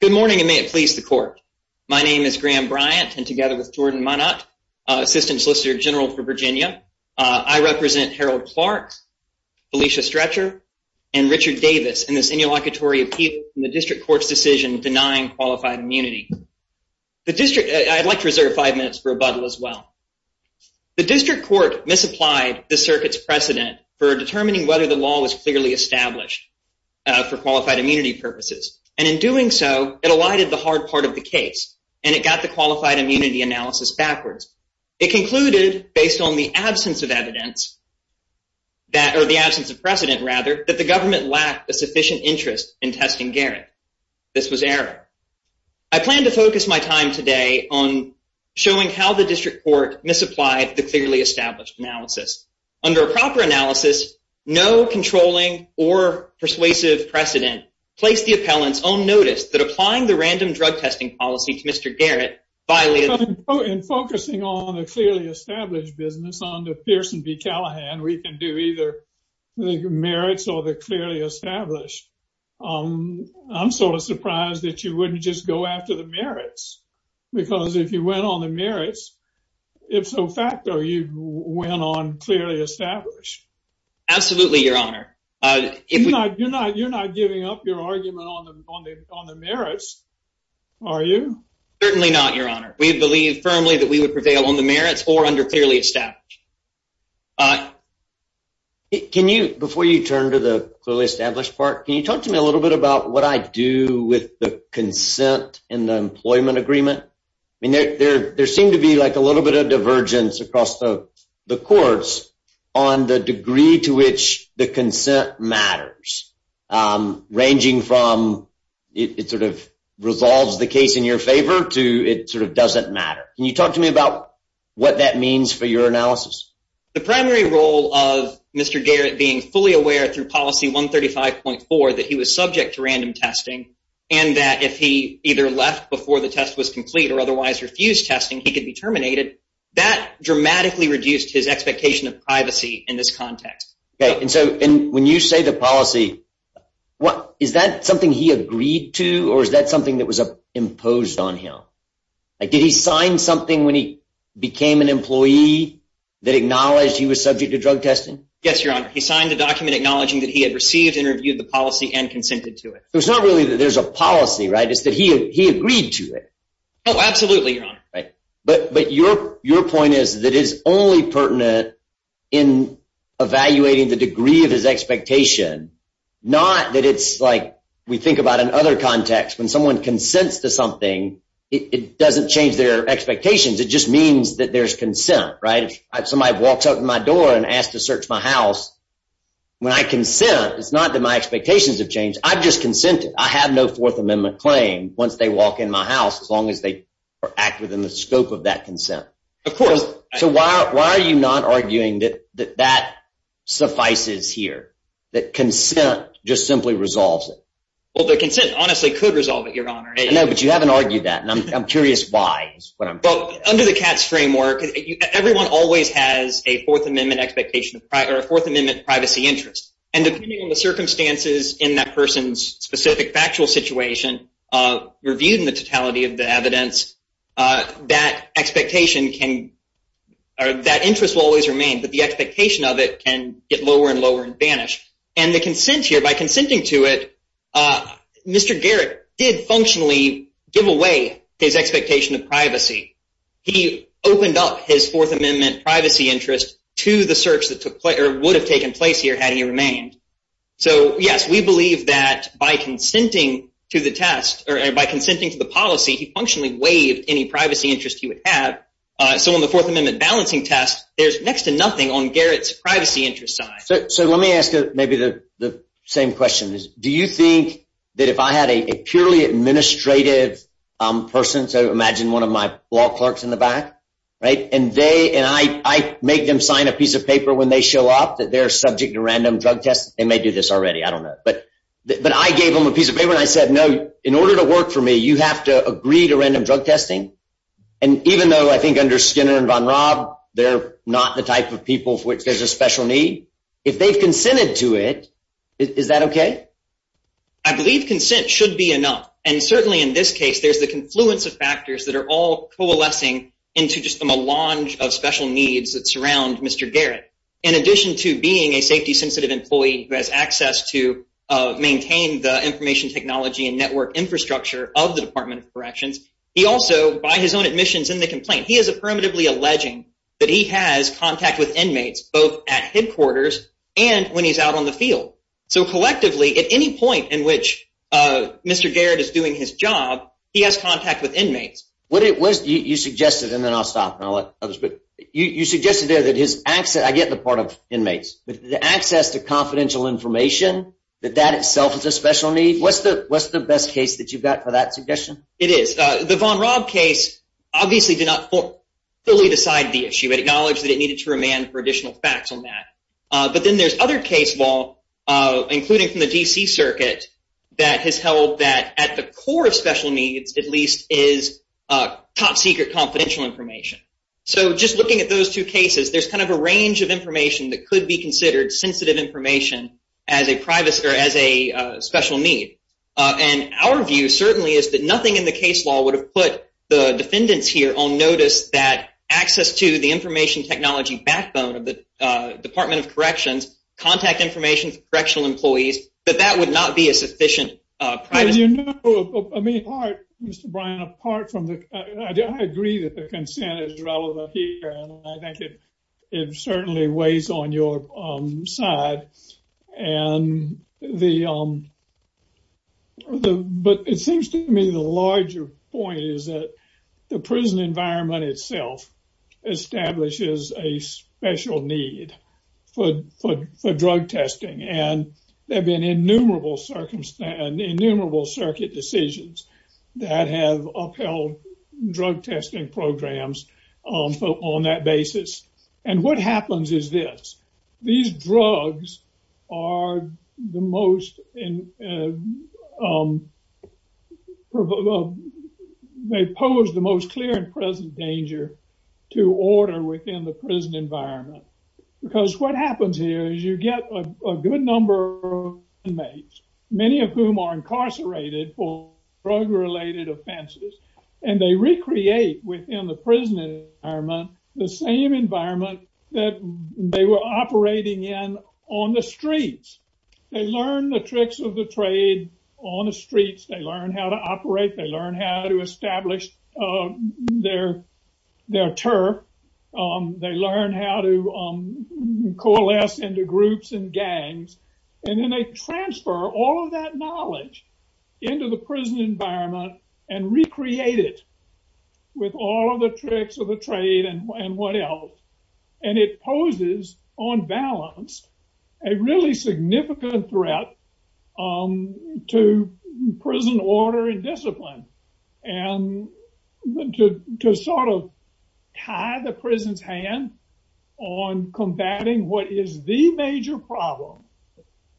Good morning and may it please the court. My name is Graham Bryant and together with Jordan Monat, Assistant Solicitor General for Virginia, I represent Harold Clarke, Felicia Stretcher, and Richard Davis in this inauguratory appeal in the district court's decision denying qualified immunity. The district, I'd like to reserve five minutes for rebuttal as well. The district court misapplied the circuit's precedent for determining whether the law was clearly established for and in doing so it alighted the hard part of the case and it got the qualified immunity analysis backwards. It concluded based on the absence of evidence that or the absence of precedent rather that the government lacked a sufficient interest in testing Garrett. This was error. I plan to focus my time today on showing how the district court misapplied the clearly established analysis. Under a proper analysis, no controlling or persuasive precedent placed the appellant's own notice that applying the random drug testing policy to Mr. Garrett violated. In focusing on a clearly established business under Pearson v Callahan, we can do either the merits or the clearly established. I'm sort of surprised that you wouldn't just go after the established. Absolutely, your honor. You're not giving up your argument on the merits, are you? Certainly not, your honor. We believe firmly that we would prevail on the merits or under clearly established. Can you, before you turn to the clearly established part, can you talk to me a little bit about what I do with the consent and the employment agreement? I mean, there seem to be like a little bit of divergence across the courts on the degree to which the consent matters, ranging from it sort of resolves the case in your favor to it sort of doesn't matter. Can you talk to me about what that means for your analysis? The primary role of Mr. Garrett being fully aware through policy 135.4 that he was subject to random was complete or otherwise refused testing. He could be terminated. That dramatically reduced his expectation of privacy in this context. Okay. And so when you say the policy, what is that something he agreed to, or is that something that was imposed on him? Did he sign something when he became an employee that acknowledged he was subject to drug testing? Yes, your honor. He signed the document acknowledging that he had received interviewed the policy and consented to it. It's not really that there's a policy, it's that he agreed to it. Oh, absolutely, your honor. But your point is that it's only pertinent in evaluating the degree of his expectation, not that it's like we think about in other contexts. When someone consents to something, it doesn't change their expectations. It just means that there's consent, right? If somebody walks up to my door and asked to search my house, when I consent, it's not that expectations have changed. I've just consented. I have no fourth amendment claim once they walk in my house, as long as they are accurate in the scope of that consent. Of course. So why are you not arguing that that suffices here, that consent just simply resolves it? Well, the consent honestly could resolve it, your honor. No, but you haven't argued that, and I'm curious why. Under the CATS framework, everyone always has a fourth amendment expectation or a fourth amendment expectation. Under the circumstances in that person's specific factual situation, reviewed in the totality of the evidence, that interest will always remain, but the expectation of it can get lower and lower and vanish. And the consent here, by consenting to it, Mr. Garrett did functionally give away his expectation of privacy. He opened up his fourth amendment privacy interest to the search that would have taken place here had he remained. So yes, we believe that by consenting to the test or by consenting to the policy, he functionally waived any privacy interest he would have. So on the fourth amendment balancing test, there's next to nothing on Garrett's privacy interest side. So let me ask maybe the same question. Do you think that if I had a purely administrative person, so imagine one of my law clerks in the back, right? And I make them sign a piece of paper and I said, no, in order to work for me, you have to agree to random drug testing. And even though I think under Skinner and Von Raub, they're not the type of people for which there's a special need. If they've consented to it, is that okay? I believe consent should be enough. And certainly in this case, there's the confluence of factors that are all coalescing into just a melange of special needs that surround Mr. Garrett. In addition to being a access to maintain the information technology and network infrastructure of the department of corrections, he also, by his own admissions in the complaint, he is affirmatively alleging that he has contact with inmates both at headquarters and when he's out on the field. So collectively at any point in which Mr. Garrett is doing his job, he has contact with inmates. What it was you suggested, and then I'll stop and I'll let others, but you suggested there is access. I get the part of inmates, but the access to confidential information, that that itself is a special need. What's the best case that you've got for that suggestion? It is. The Von Raub case obviously did not fully decide the issue. It acknowledged that it needed to remand for additional facts on that. But then there's other case law, including from the DC circuit that has held that at the core of special needs, at least is top secret confidential information. So just looking at those two cases, there's kind of a range of information that could be considered sensitive information as a privacy or as a special need. And our view certainly is that nothing in the case law would have put the defendants here on notice that access to the information technology backbone of the department of corrections, contact information for correctional employees, but that would not be a sufficient. As you know, Mr. Bryan, apart from the, I agree that the consent is relevant here, and I think it certainly weighs on your side. But it seems to me the larger point is that the prison environment itself establishes a special need for drug testing. And there have been innumerable circuit decisions that have upheld drug testing programs on that basis. And what happens is this, these drugs are the most, they pose the most clear and present danger to order within the prison environment. Because what happens here is you get a good number of inmates, many of whom are incarcerated for drug-related offenses, and they recreate within the prison environment, the same environment that they were operating in on the streets. They learn the tricks of the trade on the streets, they learn how to operate, they learn how to establish their turf. They learn how to coalesce into groups and gangs. And then they transfer all of that knowledge into the prison environment and recreate it with all of the tricks of the trade and what else. And it poses, on balance, a really significant threat to prison order and discipline. And to sort of tie the prison's hand on combating what is the major problem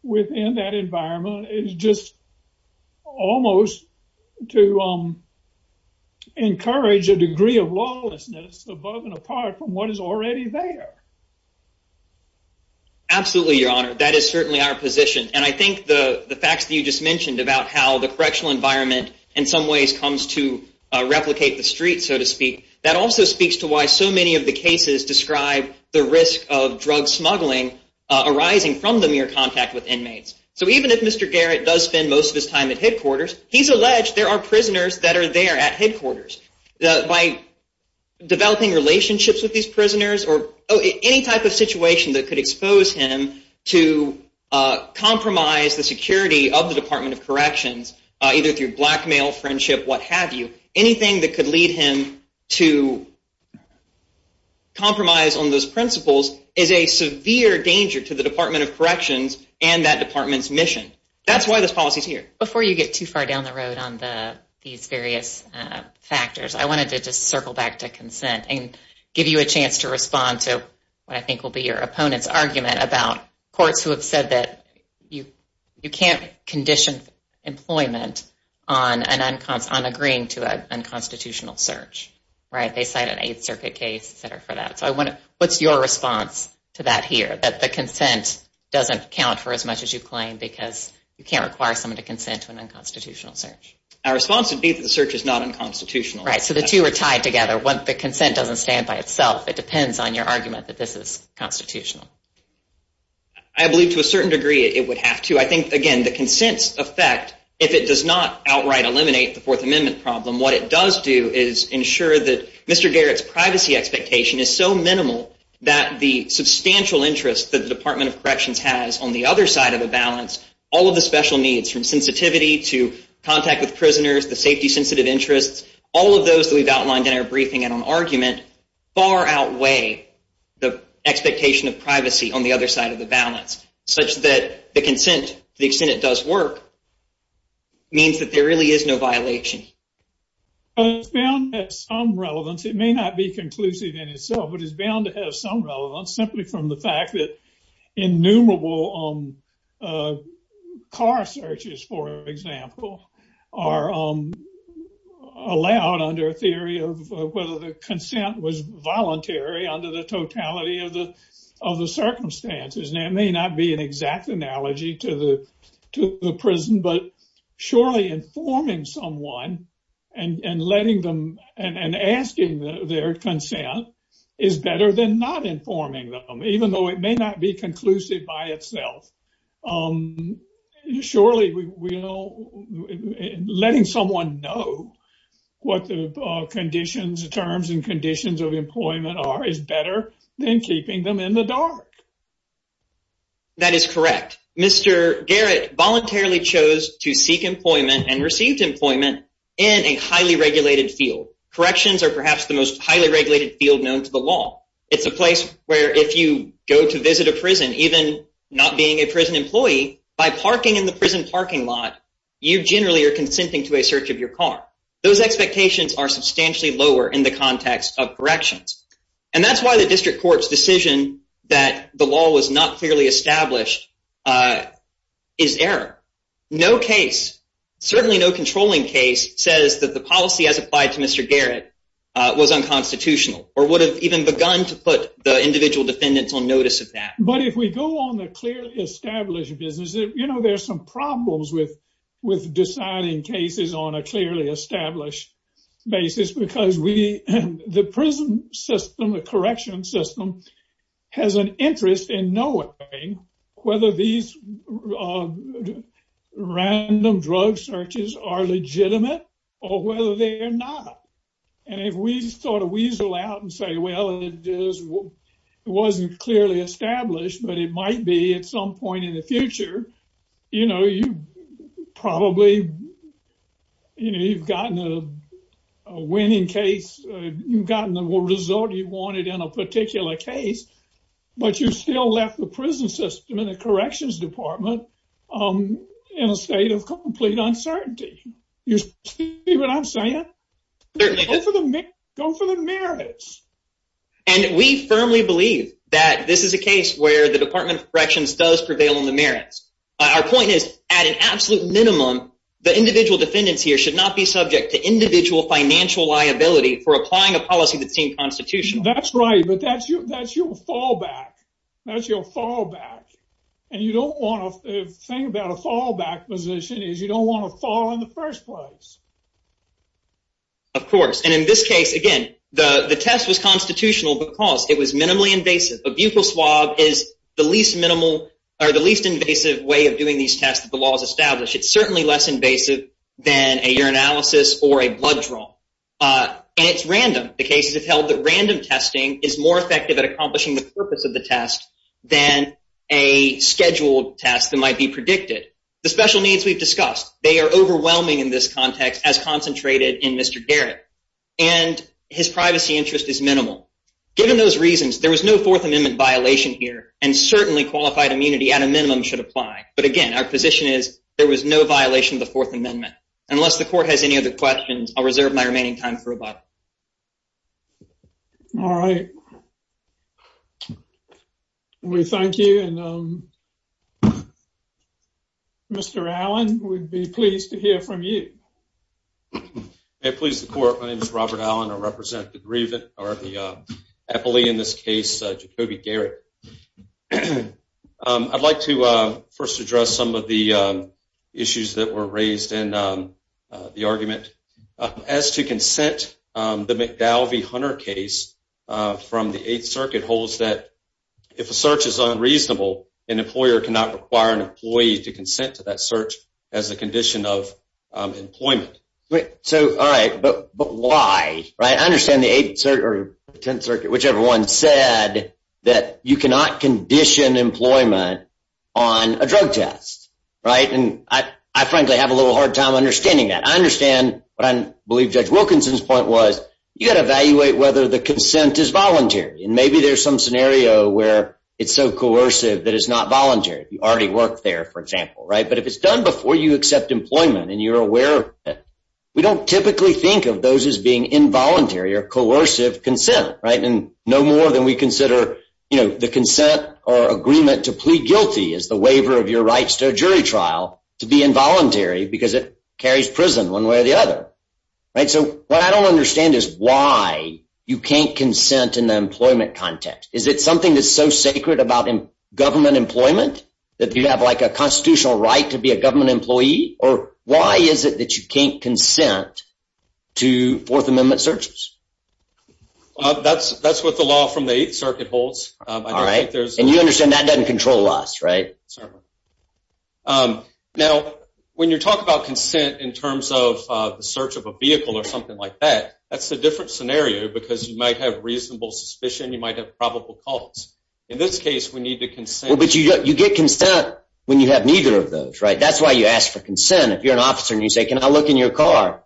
within that environment is just almost to encourage a degree of lawlessness above and apart from what is already there. Absolutely, Your Honor. That is certainly our position. And I think the facts that you just mentioned about how the correctional environment in some ways comes to replicate the streets, so to speak, that also speaks to why so many of the cases describe the risk of drug smuggling arising from the mere contact with inmates. So even if Mr. Garrett does spend most of his time at headquarters, he's alleged there are prisoners that are there at headquarters. By developing relationships with these prisoners, or any type of situation that could expose him to compromise the security of the Department of Corrections, either through blackmail, friendship, what have you, anything that could lead him to compromise on those principles is a severe danger to the Department of Corrections and that department's mission. That's why this policy is here. Before you get too far down the road on these various factors, I wanted to just circle back to consent and give you a chance to respond to what I think will be your opponent's argument about courts who have said that you They cite an Eighth Circuit case for that. So what's your response to that here, that the consent doesn't count for as much as you claim because you can't require someone to consent to an unconstitutional search? Our response would be that the search is not unconstitutional. Right, so the two are tied together. One, the consent doesn't stand by itself. It depends on your argument that this is constitutional. I believe to a certain degree it would have to. I think, again, the consent's effect, if it does not outright eliminate the Fourth Amendment problem, what it does do is ensure that Mr. Garrett's privacy expectation is so minimal that the substantial interest that the Department of Corrections has on the other side of the balance, all of the special needs from sensitivity to contact with prisoners, the safety-sensitive interests, all of those that we've outlined in our briefing and on argument far outweigh the expectation of privacy on the other side of the balance, such that the consent, to the extent it does work, means that there really is no violation. Well, it's bound to have some relevance. It may not be conclusive in itself, but it's bound to have some relevance simply from the fact that innumerable car searches, for example, are allowed under a theory of whether the consent was voluntary under the totality of the circumstances. Now, it may not be an exact analogy to the prison, but surely informing someone and asking their consent is better than not informing them, even though it may not be conclusive by itself. Surely letting someone know what the terms and conditions of employment are is better than keeping them in the dark. That is correct. Mr. Garrett voluntarily chose to seek employment and received employment in a highly regulated field. Corrections are perhaps the most highly regulated field known to the law. It's a place where if you go to visit a prison, even not being a prison employee, by parking in the prison parking lot, you generally are consenting to a search of your car. Those expectations are substantially lower in the context of corrections. And that's why the district court's decision that the law was not clearly established is error. No case, certainly no controlling case, says that the policy as applied to Mr. Garrett was unconstitutional or would have even begun to put the individual defendants on notice of that. But if we go on the clearly established business, you know there's some problems with deciding cases on a clearly established basis because the prison system, the correction system, has an interest in knowing whether these random drug searches are legitimate or whether they're not. And if we sort of weasel out and say, well, it wasn't clearly established, but it might be some point in the future, you know, you've probably, you know, you've gotten a winning case, you've gotten the result you wanted in a particular case, but you still left the prison system and the corrections department in a state of complete uncertainty. You see what I'm saying? Go for the merits. And we firmly believe that this is a case where the Department of Corrections does prevail on the merits. Our point is, at an absolute minimum, the individual defendants here should not be subject to individual financial liability for applying a policy that seemed constitutional. That's right, but that's your fallback. That's your fallback. And you don't want to think about a fallback position is you don't want to fall in the first place. Of course. And in this case, again, the test was constitutional because it was minimally invasive. A butyl swab is the least minimal or the least invasive way of doing these tests that the law has established. It's certainly less invasive than a urinalysis or a blood draw. And it's random. The cases have held that random testing is more effective at accomplishing the purpose of the test than a scheduled test that might be predicted. The special needs we've discussed, they are overwhelming in this context as concentrated in Mr. Garrett. And his privacy interest is minimal. Given those reasons, there was no Fourth Amendment violation here, and certainly qualified immunity at a minimum should apply. But again, our position is there was no violation of the Fourth Amendment. Unless the court has any other questions, I'll reserve my remaining time for rebuttal. All right. We thank you. And Mr. Allen, we'd be pleased to hear from you. May it please the court, my name is Robert Allen. I represent the grievant, or the epilee in this case, Jacobi Garrett. I'd like to first address some of the issues that were raised in the argument. As to consent, the McDowell v. Hunter case from the Eighth Circuit holds that if a search is unreasonable, an employer cannot require an employee to consent to that search as a condition of employment. So, all right, but why? I understand the Eighth Circuit, or the Tenth Circuit, whichever one, said that you cannot condition employment on a drug test, right? And I frankly have a little hard time understanding that. I understand, but I believe Judge Wilkinson's point was, you got to evaluate whether the consent is voluntary. And maybe there's some scenario where it's so coercive that it's not voluntary. You already work there, for example, right? But if it's done before you accept employment and you're aware, we don't typically think of those as being involuntary or coercive consent, right? And no more than we consider, you know, the consent or agreement to plead guilty is the waiver of your rights to a jury trial to be involuntary because it carries prison one way or the other. Right? So, what I don't understand is why you can't consent in the employment context. Is it like a constitutional right to be a government employee? Or why is it that you can't consent to Fourth Amendment searches? That's what the law from the Eighth Circuit holds. All right. And you understand that doesn't control us, right? Certainly. Now, when you talk about consent in terms of the search of a vehicle or something like that, that's a different scenario because you might have reasonable suspicion, you might have probable cause. In this case, we need to consent. But you get consent when you have neither of those, right? That's why you ask for consent. If you're an officer and you say, can I look in your car?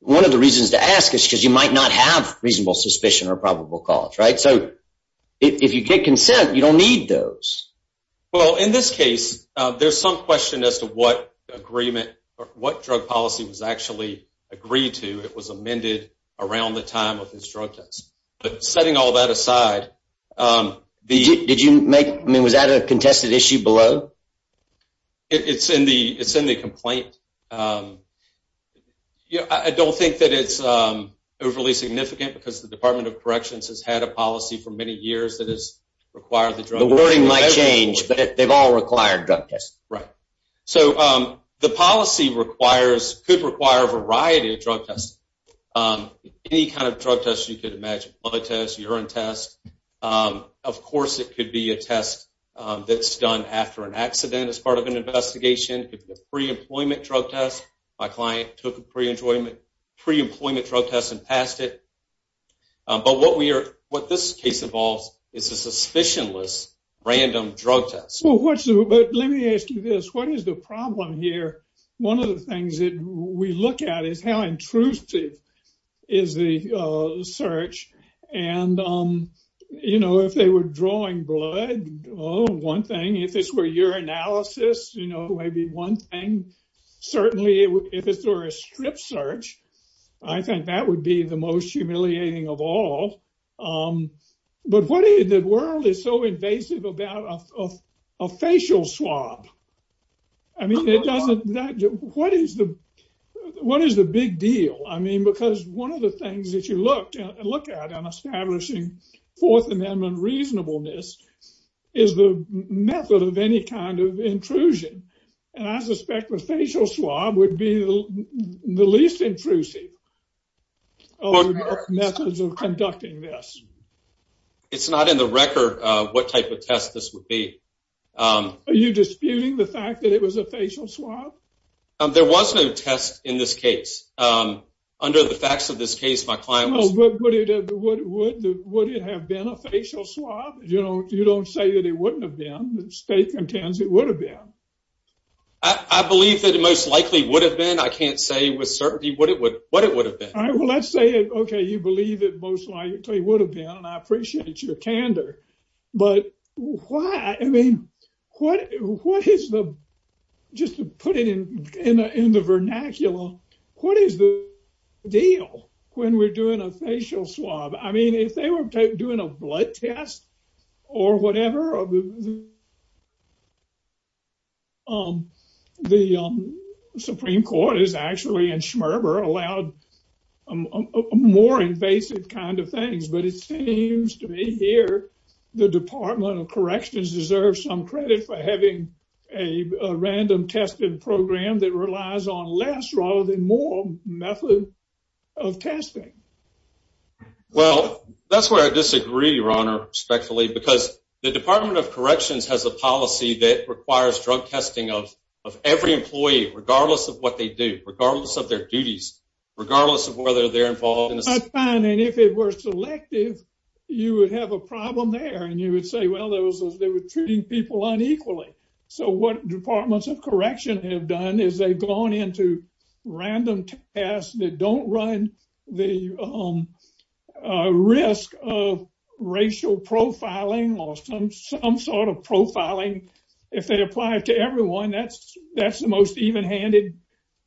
One of the reasons to ask is because you might not have reasonable suspicion or probable cause, right? So, if you get consent, you don't need those. Well, in this case, there's some question as to what agreement or what drug policy was actually agreed to. It was amended around the time of this drug test. But setting all that aside, was that a contested issue below? It's in the complaint. I don't think that it's overly significant because the Department of Corrections has had a policy for many years that has required the drug test. The wording might change, but they've all required drug tests. Right. So, the policy could require a variety of drug tests. Any kind of drug test you could imagine, blood test, urine test. Of course, it could be a test that's done after an accident as part of an investigation. It could be a pre-employment drug test. My client took a pre-employment drug test and passed it. But what this case involves is a suspicionless random drug test. Well, let me ask you this. What is the problem here? One of the things that we look at is how intrusive is the search. If they were drawing blood, one thing. If this were urinalysis, maybe one thing. Certainly, if it's through a strip search, I think that would be the most humiliating of all. But the world is so invasive about a facial swab. I mean, what is the big deal? I mean, because one of the things that you look at in establishing Fourth Amendment reasonableness is the method of any kind of intrusion. And I suspect a facial swab would be the least intrusive of methods of conducting this. It's not in the record what type of test this would be. Are you disputing the fact that it was a facial swab? There was no test in this case. Under the facts of this case, my client was... Would it have been a facial swab? You don't say that it wouldn't have been. The state contends it would have been. I believe that it most likely would have been. I can't say with certainty what it would have been. All right. Well, let's say, okay, you believe it most likely would have been, and I appreciate your candor. But why? I mean, what is the, just to put it in the vernacular, what is the deal when we're doing a facial swab? I mean, if they were doing a blood test or whatever, the Supreme Court is actually in Schmerber allowed more invasive kind of things. But it seems to me here, the Department of Corrections has a policy that requires drug testing of every employee, regardless of what they do, regardless of their duties, regardless of whether they're involved in this. That's fine. And if it were selective, you would have a problem there. And you would say, well, they were treating people unequally. So what Departments of Correction have done is they've gone into random tests that don't run the risk of racial profiling or some sort of profiling. If they apply it to everyone, that's the most even-handed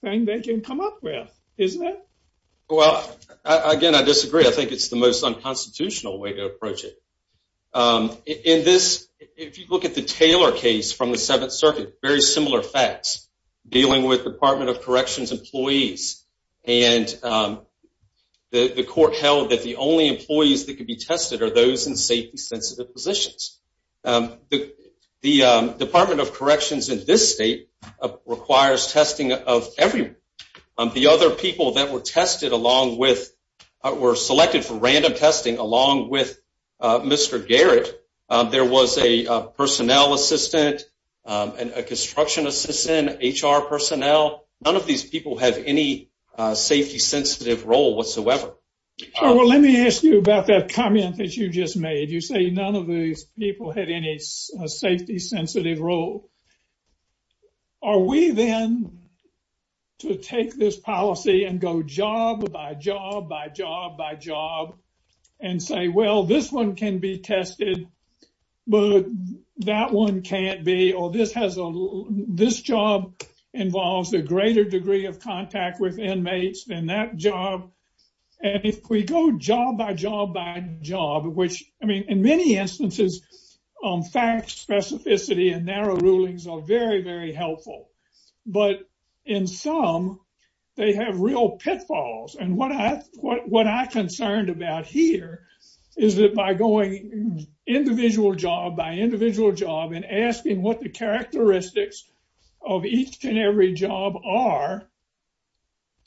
thing they can come up with, isn't it? Well, again, I disagree. I think it's the most unconstitutional way to approach it. In this, if you look at the Taylor case from the Seventh Circuit, very similar facts, dealing with Department of Corrections employees. And the court held that the only employees that could be tested are those in safety-sensitive positions. The Department of Corrections in this state requires testing of everyone. The other people that were tested along with, were selected for random testing along with Mr. Garrett, there was a personnel assistant, and a construction assistant, HR personnel. None of these people have any safety-sensitive role whatsoever. Well, let me ask you about that comment that you just made. You say none of these people had any safety-sensitive role. Are we then to take this policy and go job by job by job and say, well, this one can be tested, but that one can't be, or this job involves a greater degree of contact with inmates than that job. And if we go job by job by job, which, I mean, in many instances, facts, specificity, and narrow rulings are very, very helpful. But in some, they have real pitfalls. And what I concerned about here is that by going individual job by individual job and asking what the characteristics of each and every job are,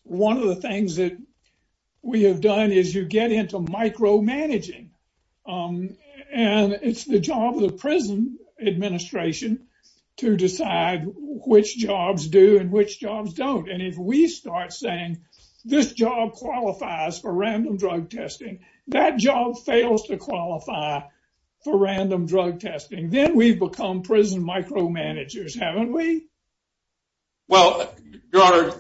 one of the things that we have done is you get into micromanaging. And it's the job of the prison administration to decide which jobs do and which jobs don't. And if we start saying this job qualifies for random drug testing, that job fails to qualify for random drug testing. Then we've become prison micromanagers, haven't we? Well, Your Honor,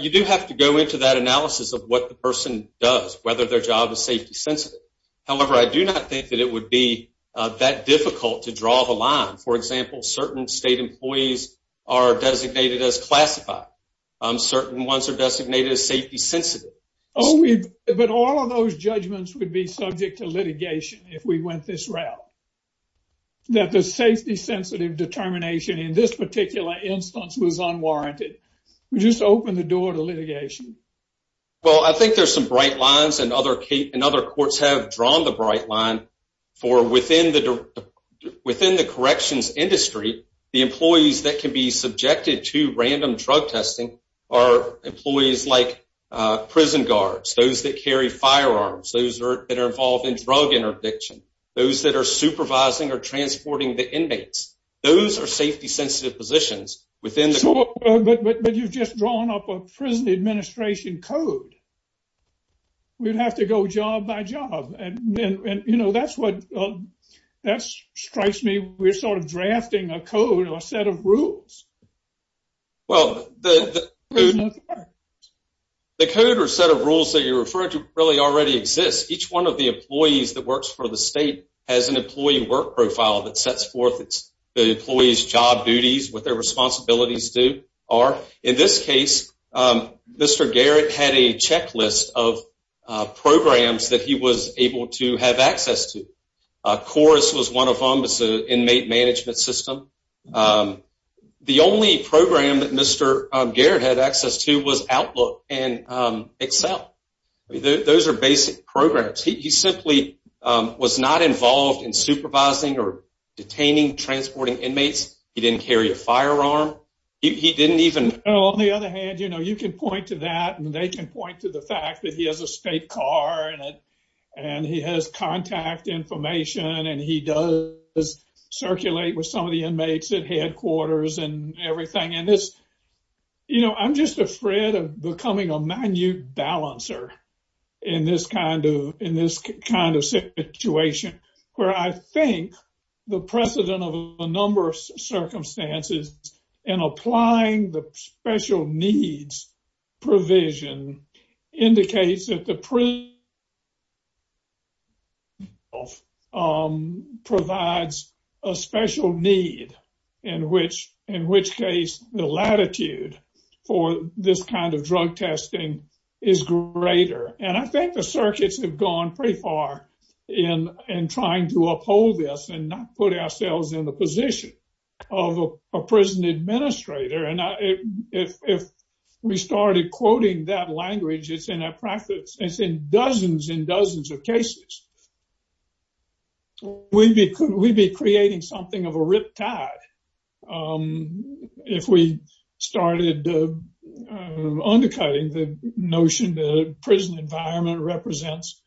you do have to go into that analysis of what the person does, whether their job is safety-sensitive. However, I do not think that would be that difficult to draw the line. For example, certain state employees are designated as classified. Certain ones are designated as safety-sensitive. But all of those judgments would be subject to litigation if we went this route, that the safety-sensitive determination in this particular instance was unwarranted. We just opened the door to litigation. Well, I think there's some bright lines and other courts have drawn the bright line for within the corrections industry, the employees that can be subjected to random drug testing are employees like prison guards, those that carry firearms, those that are involved in drug interdiction, those that are supervising or transporting the inmates. Those are safety-sensitive positions within the- But you've just drawn up a prison administration code. We'd have to go job by job. That strikes me, we're sort of drafting a code or a set of rules. Well, the code or set of rules that you're referring to really already exists. Each one of the employees that works for the state has an employee work profile that sets forth the responsibilities are. In this case, Mr. Garrett had a checklist of programs that he was able to have access to. Chorus was one of them. It's an inmate management system. The only program that Mr. Garrett had access to was Outlook and Excel. Those are basic programs. He simply was not involved in supervising or detaining transporting inmates. He didn't carry a firearm. He didn't even- On the other hand, you can point to that and they can point to the fact that he has a state car and he has contact information and he does circulate with some of the inmates at headquarters and everything. I'm just afraid of becoming a minute balancer in this kind of situation. Where I think the precedent of a number of circumstances in applying the special needs provision indicates that the prison provides a special need, in which case the latitude for this kind of drug testing is greater. I think the circuits have gone pretty far in trying to uphold this and not put ourselves in the position of a prison administrator. If we started quoting that language, it's in dozens and dozens of cases. We'd be creating something of a riptide if we started undercutting the notion that a prison environment represents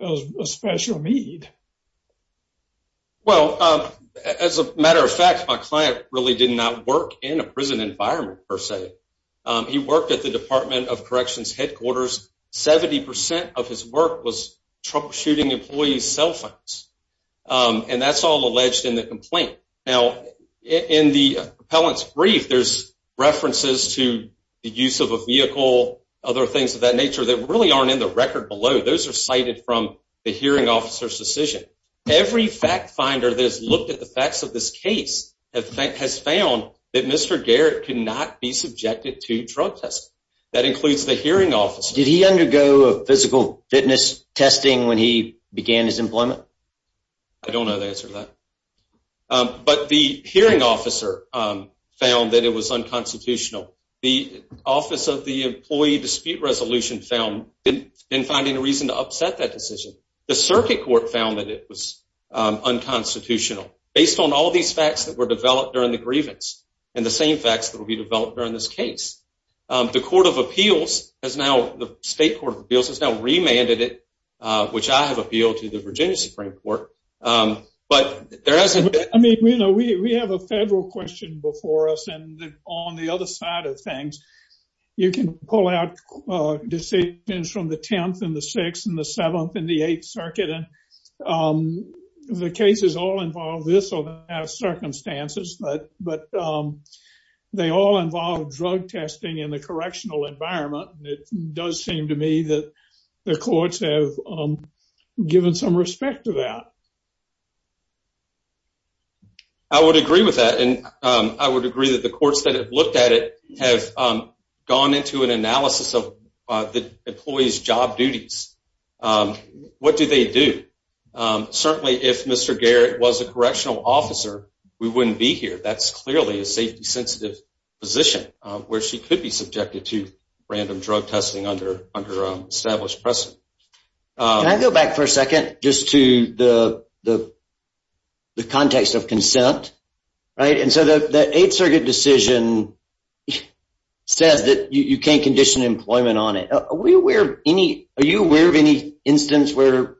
a special need. Well, as a matter of fact, my client really did not work in a prison environment per se. He worked at the Department of Corrections headquarters. 70% of his work was troubleshooting employees' cell phones and that's all alleged in the complaint. Now, in the appellant's brief, there's references to the use of a vehicle and other things of that nature that really aren't in the record below. Those are cited from the hearing officer's decision. Every fact finder that has looked at the facts of this case has found that Mr. Garrett could not be subjected to drug testing. That includes the hearing officer. Did he undergo physical fitness testing when he began his employment? I don't know the answer to that. But the hearing officer found that it was unconstitutional. The Office of the Employee Dispute Resolution found they didn't find any reason to upset that decision. The circuit court found that it was unconstitutional based on all these facts that were developed during the grievance and the same facts that will be developed during this case. The Court of Appeals has now, the State Court of Appeals, which I have appealed to the Virginia Supreme Court. We have a federal question before us and on the other side of things, you can pull out decisions from the 10th and the 6th and the 7th and the 8th Circuit. The cases all involve this or have circumstances, but they all involve drug testing in the correctional environment. It does seem to me that the courts have given some respect to that. I would agree with that, and I would agree that the courts that have looked at it have gone into an analysis of the employees job duties. What do they do? Certainly if Mr. Garrett was a correctional officer, we wouldn't be here. That's clearly a safety sensitive position where she could be subjected to random drug testing under established precedent. Can I go back for a second just to the context of consent? The 8th Circuit decision says that you can't condition employment Are you aware of any instance where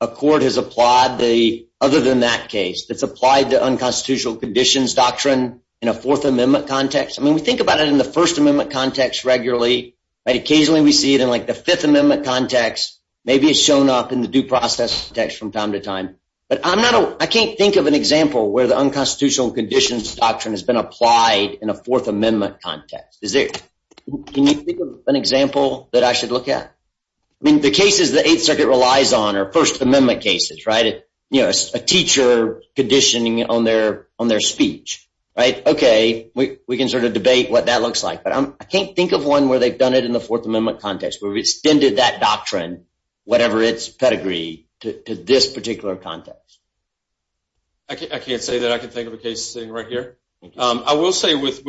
a court has applied the other than that case that's applied to unconstitutional conditions doctrine in a Fourth Amendment context? I mean, we think about it in the First Amendment context regularly, but occasionally we see it in like the Fifth Amendment context. Maybe it's shown up in the due process text from time to time, but I can't think of an example where the unconstitutional conditions doctrine has been applied in a Fourth Amendment context. Can you think of an example that I should look at? I mean, the cases the 8th Circuit relies on are First Amendment cases, right? You know, a teacher conditioning on their speech, right? Okay, we can sort of debate what that looks like, but I can't think of one where they've done it in the Fourth Amendment context where we've extended that doctrine, whatever its pedigree, to this particular context. I can't say that I can think of a case sitting right here. I will say with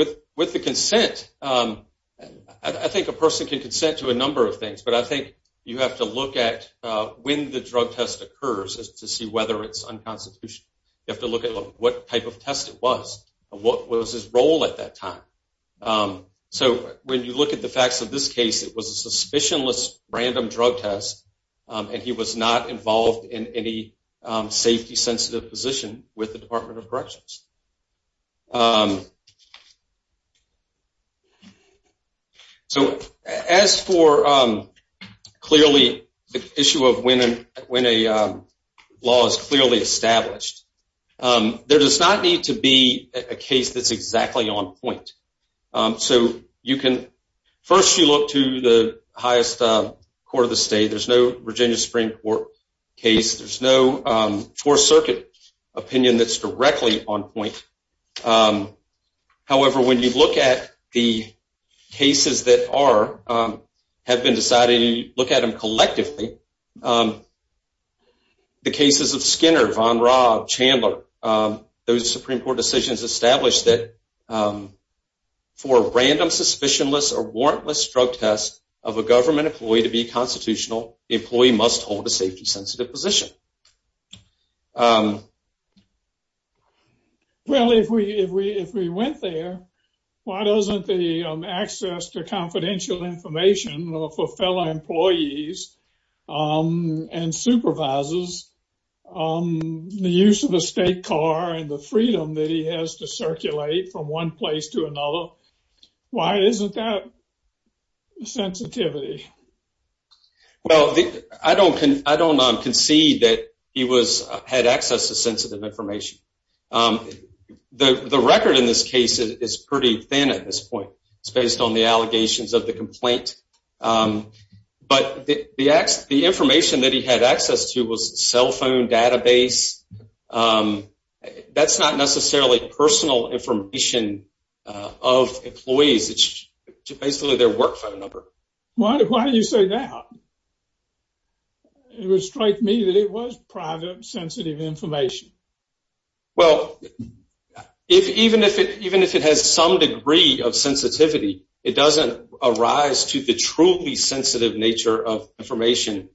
the consent, I think a person can consent to a number of things, but I think you have to look at when the drug test occurs to see whether it's unconstitutional. You have to look at what type of test it was and what was his role at that time. So, when you look at the facts of this case, it was a suspicionless random drug test and he was not involved in any safety-sensitive position with the Department of Corrections. So, as for clearly the issue of when a law is clearly established, there does not need to be a case that's exactly on point. So, first you look to the highest court of the state. There's no Virginia Supreme Court case. There's no Fourth Circuit opinion that's directly on point. However, when you look at the cases that have been decided and you look at them collectively, the cases of Skinner, Von Raab, Chandler, those Supreme Court decisions established that for a random suspicionless or warrantless drug test of a government employee to be constitutional, the employee must hold a safety-sensitive position. Well, if we went there, why doesn't the access to confidential information for fellow employees and supervisors, the use of a state car and the freedom that he has to circulate from one place to another, why isn't that sensitivity? Well, I don't concede that he had access to sensitive information. The record in this case is pretty thin at this point. It's based on the allegations of the complaint. But the information that he had access to was a cell phone database. That's not necessarily personal information of employees. It's basically their work phone number. Why do you say that? It would strike me that it was private sensitive information. Well, even if it has some degree of sensitivity, it doesn't arise to the truly sensitive nature of information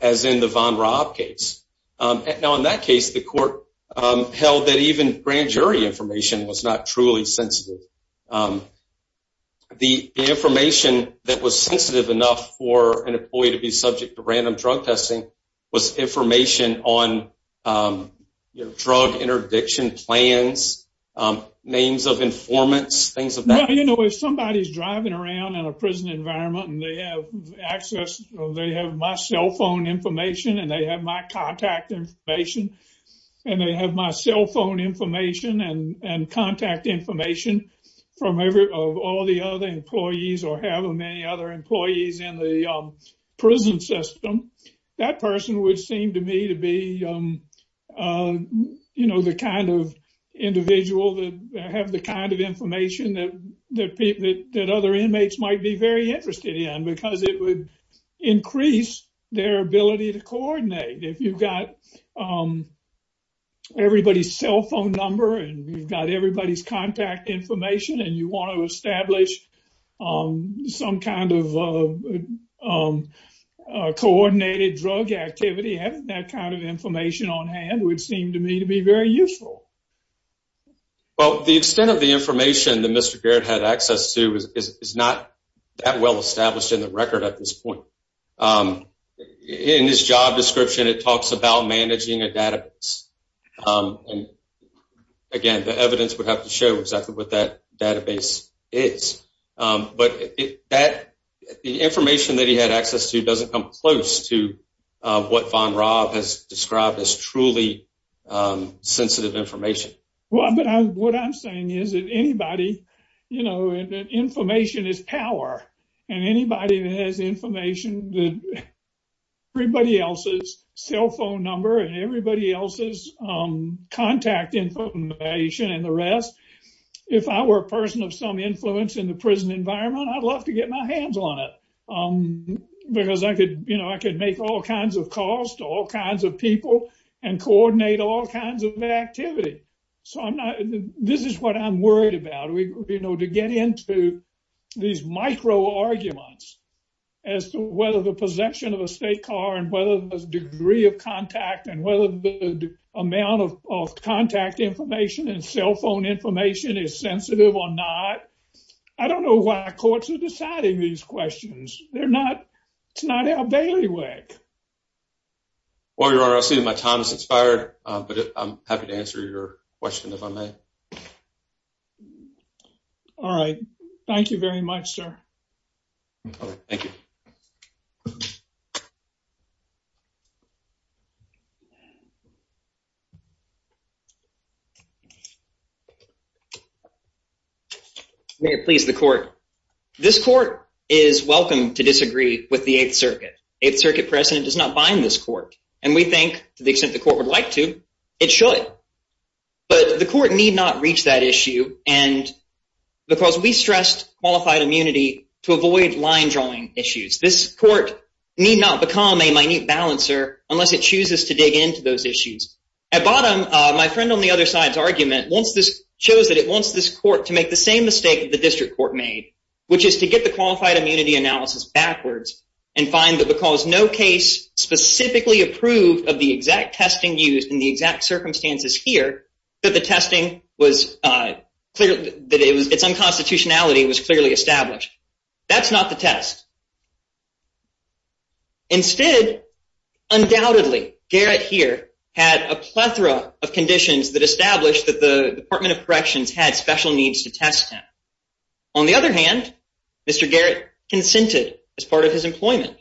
as in the Von Raab case. Now, in that case, the court held that even grand jury information was not truly sensitive. The information that was sensitive enough for an employee to be subject to random drug testing was information on drug interdiction plans, names of informants, things of that nature. You know, if somebody's driving around in a prison environment and they have access, they have my cell phone information, and they have my contact information, and they have my cell phone information and contact information from all the other employees or however many other employees in the prison system, that person would seem to me to be the kind of individual that have the kind of information that other inmates might be very interested in because it would increase their ability to coordinate. If you've got everybody's cell phone number, and you've got everybody's contact information, and you want to establish some kind of coordinated drug activity, having that kind of information on hand would seem to me to be very useful. Well, the extent of the information that Mr. Garrett had access to is not that well established in the record at this point. In his job description, it talks about managing a database. Again, the evidence would have to show exactly what that database is, but the information that he had access to doesn't come close to what Von Raab has described as truly sensitive information. What I'm saying is that information is power, and anybody that has information, everybody else's cell phone number and everybody else's contact information and the rest, if I were a person of some influence in the prison environment, I'd love to get my hands on it because I could make all kinds of calls to all kinds of people and coordinate all kinds of activity. This is what I'm worried about, to get into these micro-arguments as to whether the possession of a state car and whether the degree of contact and whether the amount of contact information and cell phone information is sensitive or not. I don't know why courts are deciding these questions. It's not our bailiwick. Well, Your Honor, I see that my time has expired, but I'm happy to answer your question if I may. All right. Thank you very much, sir. All right. Thank you. May it please the court. This court is welcome to disagree with the Eighth Circuit. Eighth Circuit precedent does not bind this court, and we think, to the extent the court would like to, it should. But the court need not reach that issue, because we stressed qualified immunity to avoid line-drawing issues. This court need not become a minute balancer unless it chooses to dig into those issues. At bottom, my friend on the other side's argument shows that it wants this court to make the same mistake that the district court made, which is to get the qualified no case specifically approved of the exact testing used in the exact circumstances here that the testing was clear that it was its unconstitutionality was clearly established. That's not the test. Instead, undoubtedly, Garrett here had a plethora of conditions that established that the Department of Corrections had special needs to test him. On the other hand, Mr. Garrett consented as part of his employment.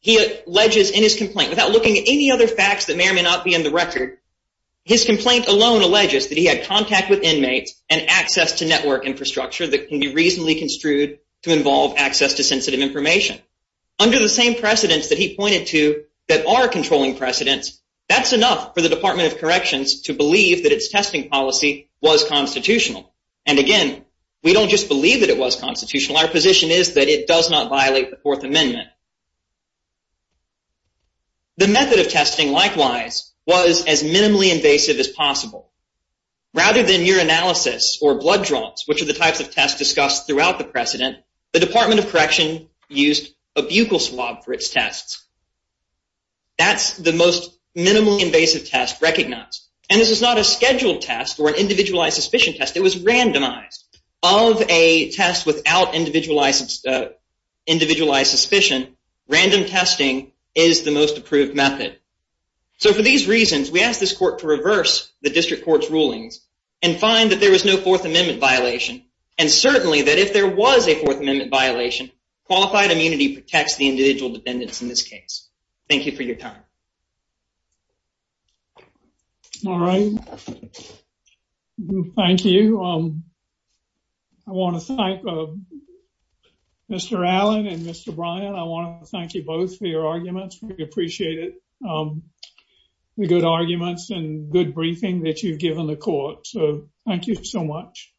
He alleges in his complaint, without looking at any other facts that may or may not be in the record, his complaint alone alleges that he had contact with inmates and access to network infrastructure that can be reasonably construed to involve access to sensitive information. Under the same precedents that he pointed to that are controlling precedents, that's enough for the Department of Corrections to believe that its testing policy was constitutional. And again, we don't just believe that it was constitutional. Our position is that it does not violate the Fourth Amendment. The method of testing, likewise, was as minimally invasive as possible. Rather than urinalysis or blood draws, which are the types of tests discussed throughout the precedent, the Department of Correction used a buccal swab for its tests. That's the most individualized suspicion test. It was randomized. Of a test without individualized suspicion, random testing is the most approved method. So for these reasons, we ask this court to reverse the district court's rulings and find that there was no Fourth Amendment violation, and certainly that if there was a Fourth Amendment violation, qualified immunity protects the individual defendants in this case. Thank you for your time. All right. Thank you. I want to thank Mr. Allen and Mr. Bryan. I want to thank you both for your arguments. We appreciate it. The good arguments and good briefing that you've given the court. So thank you so much.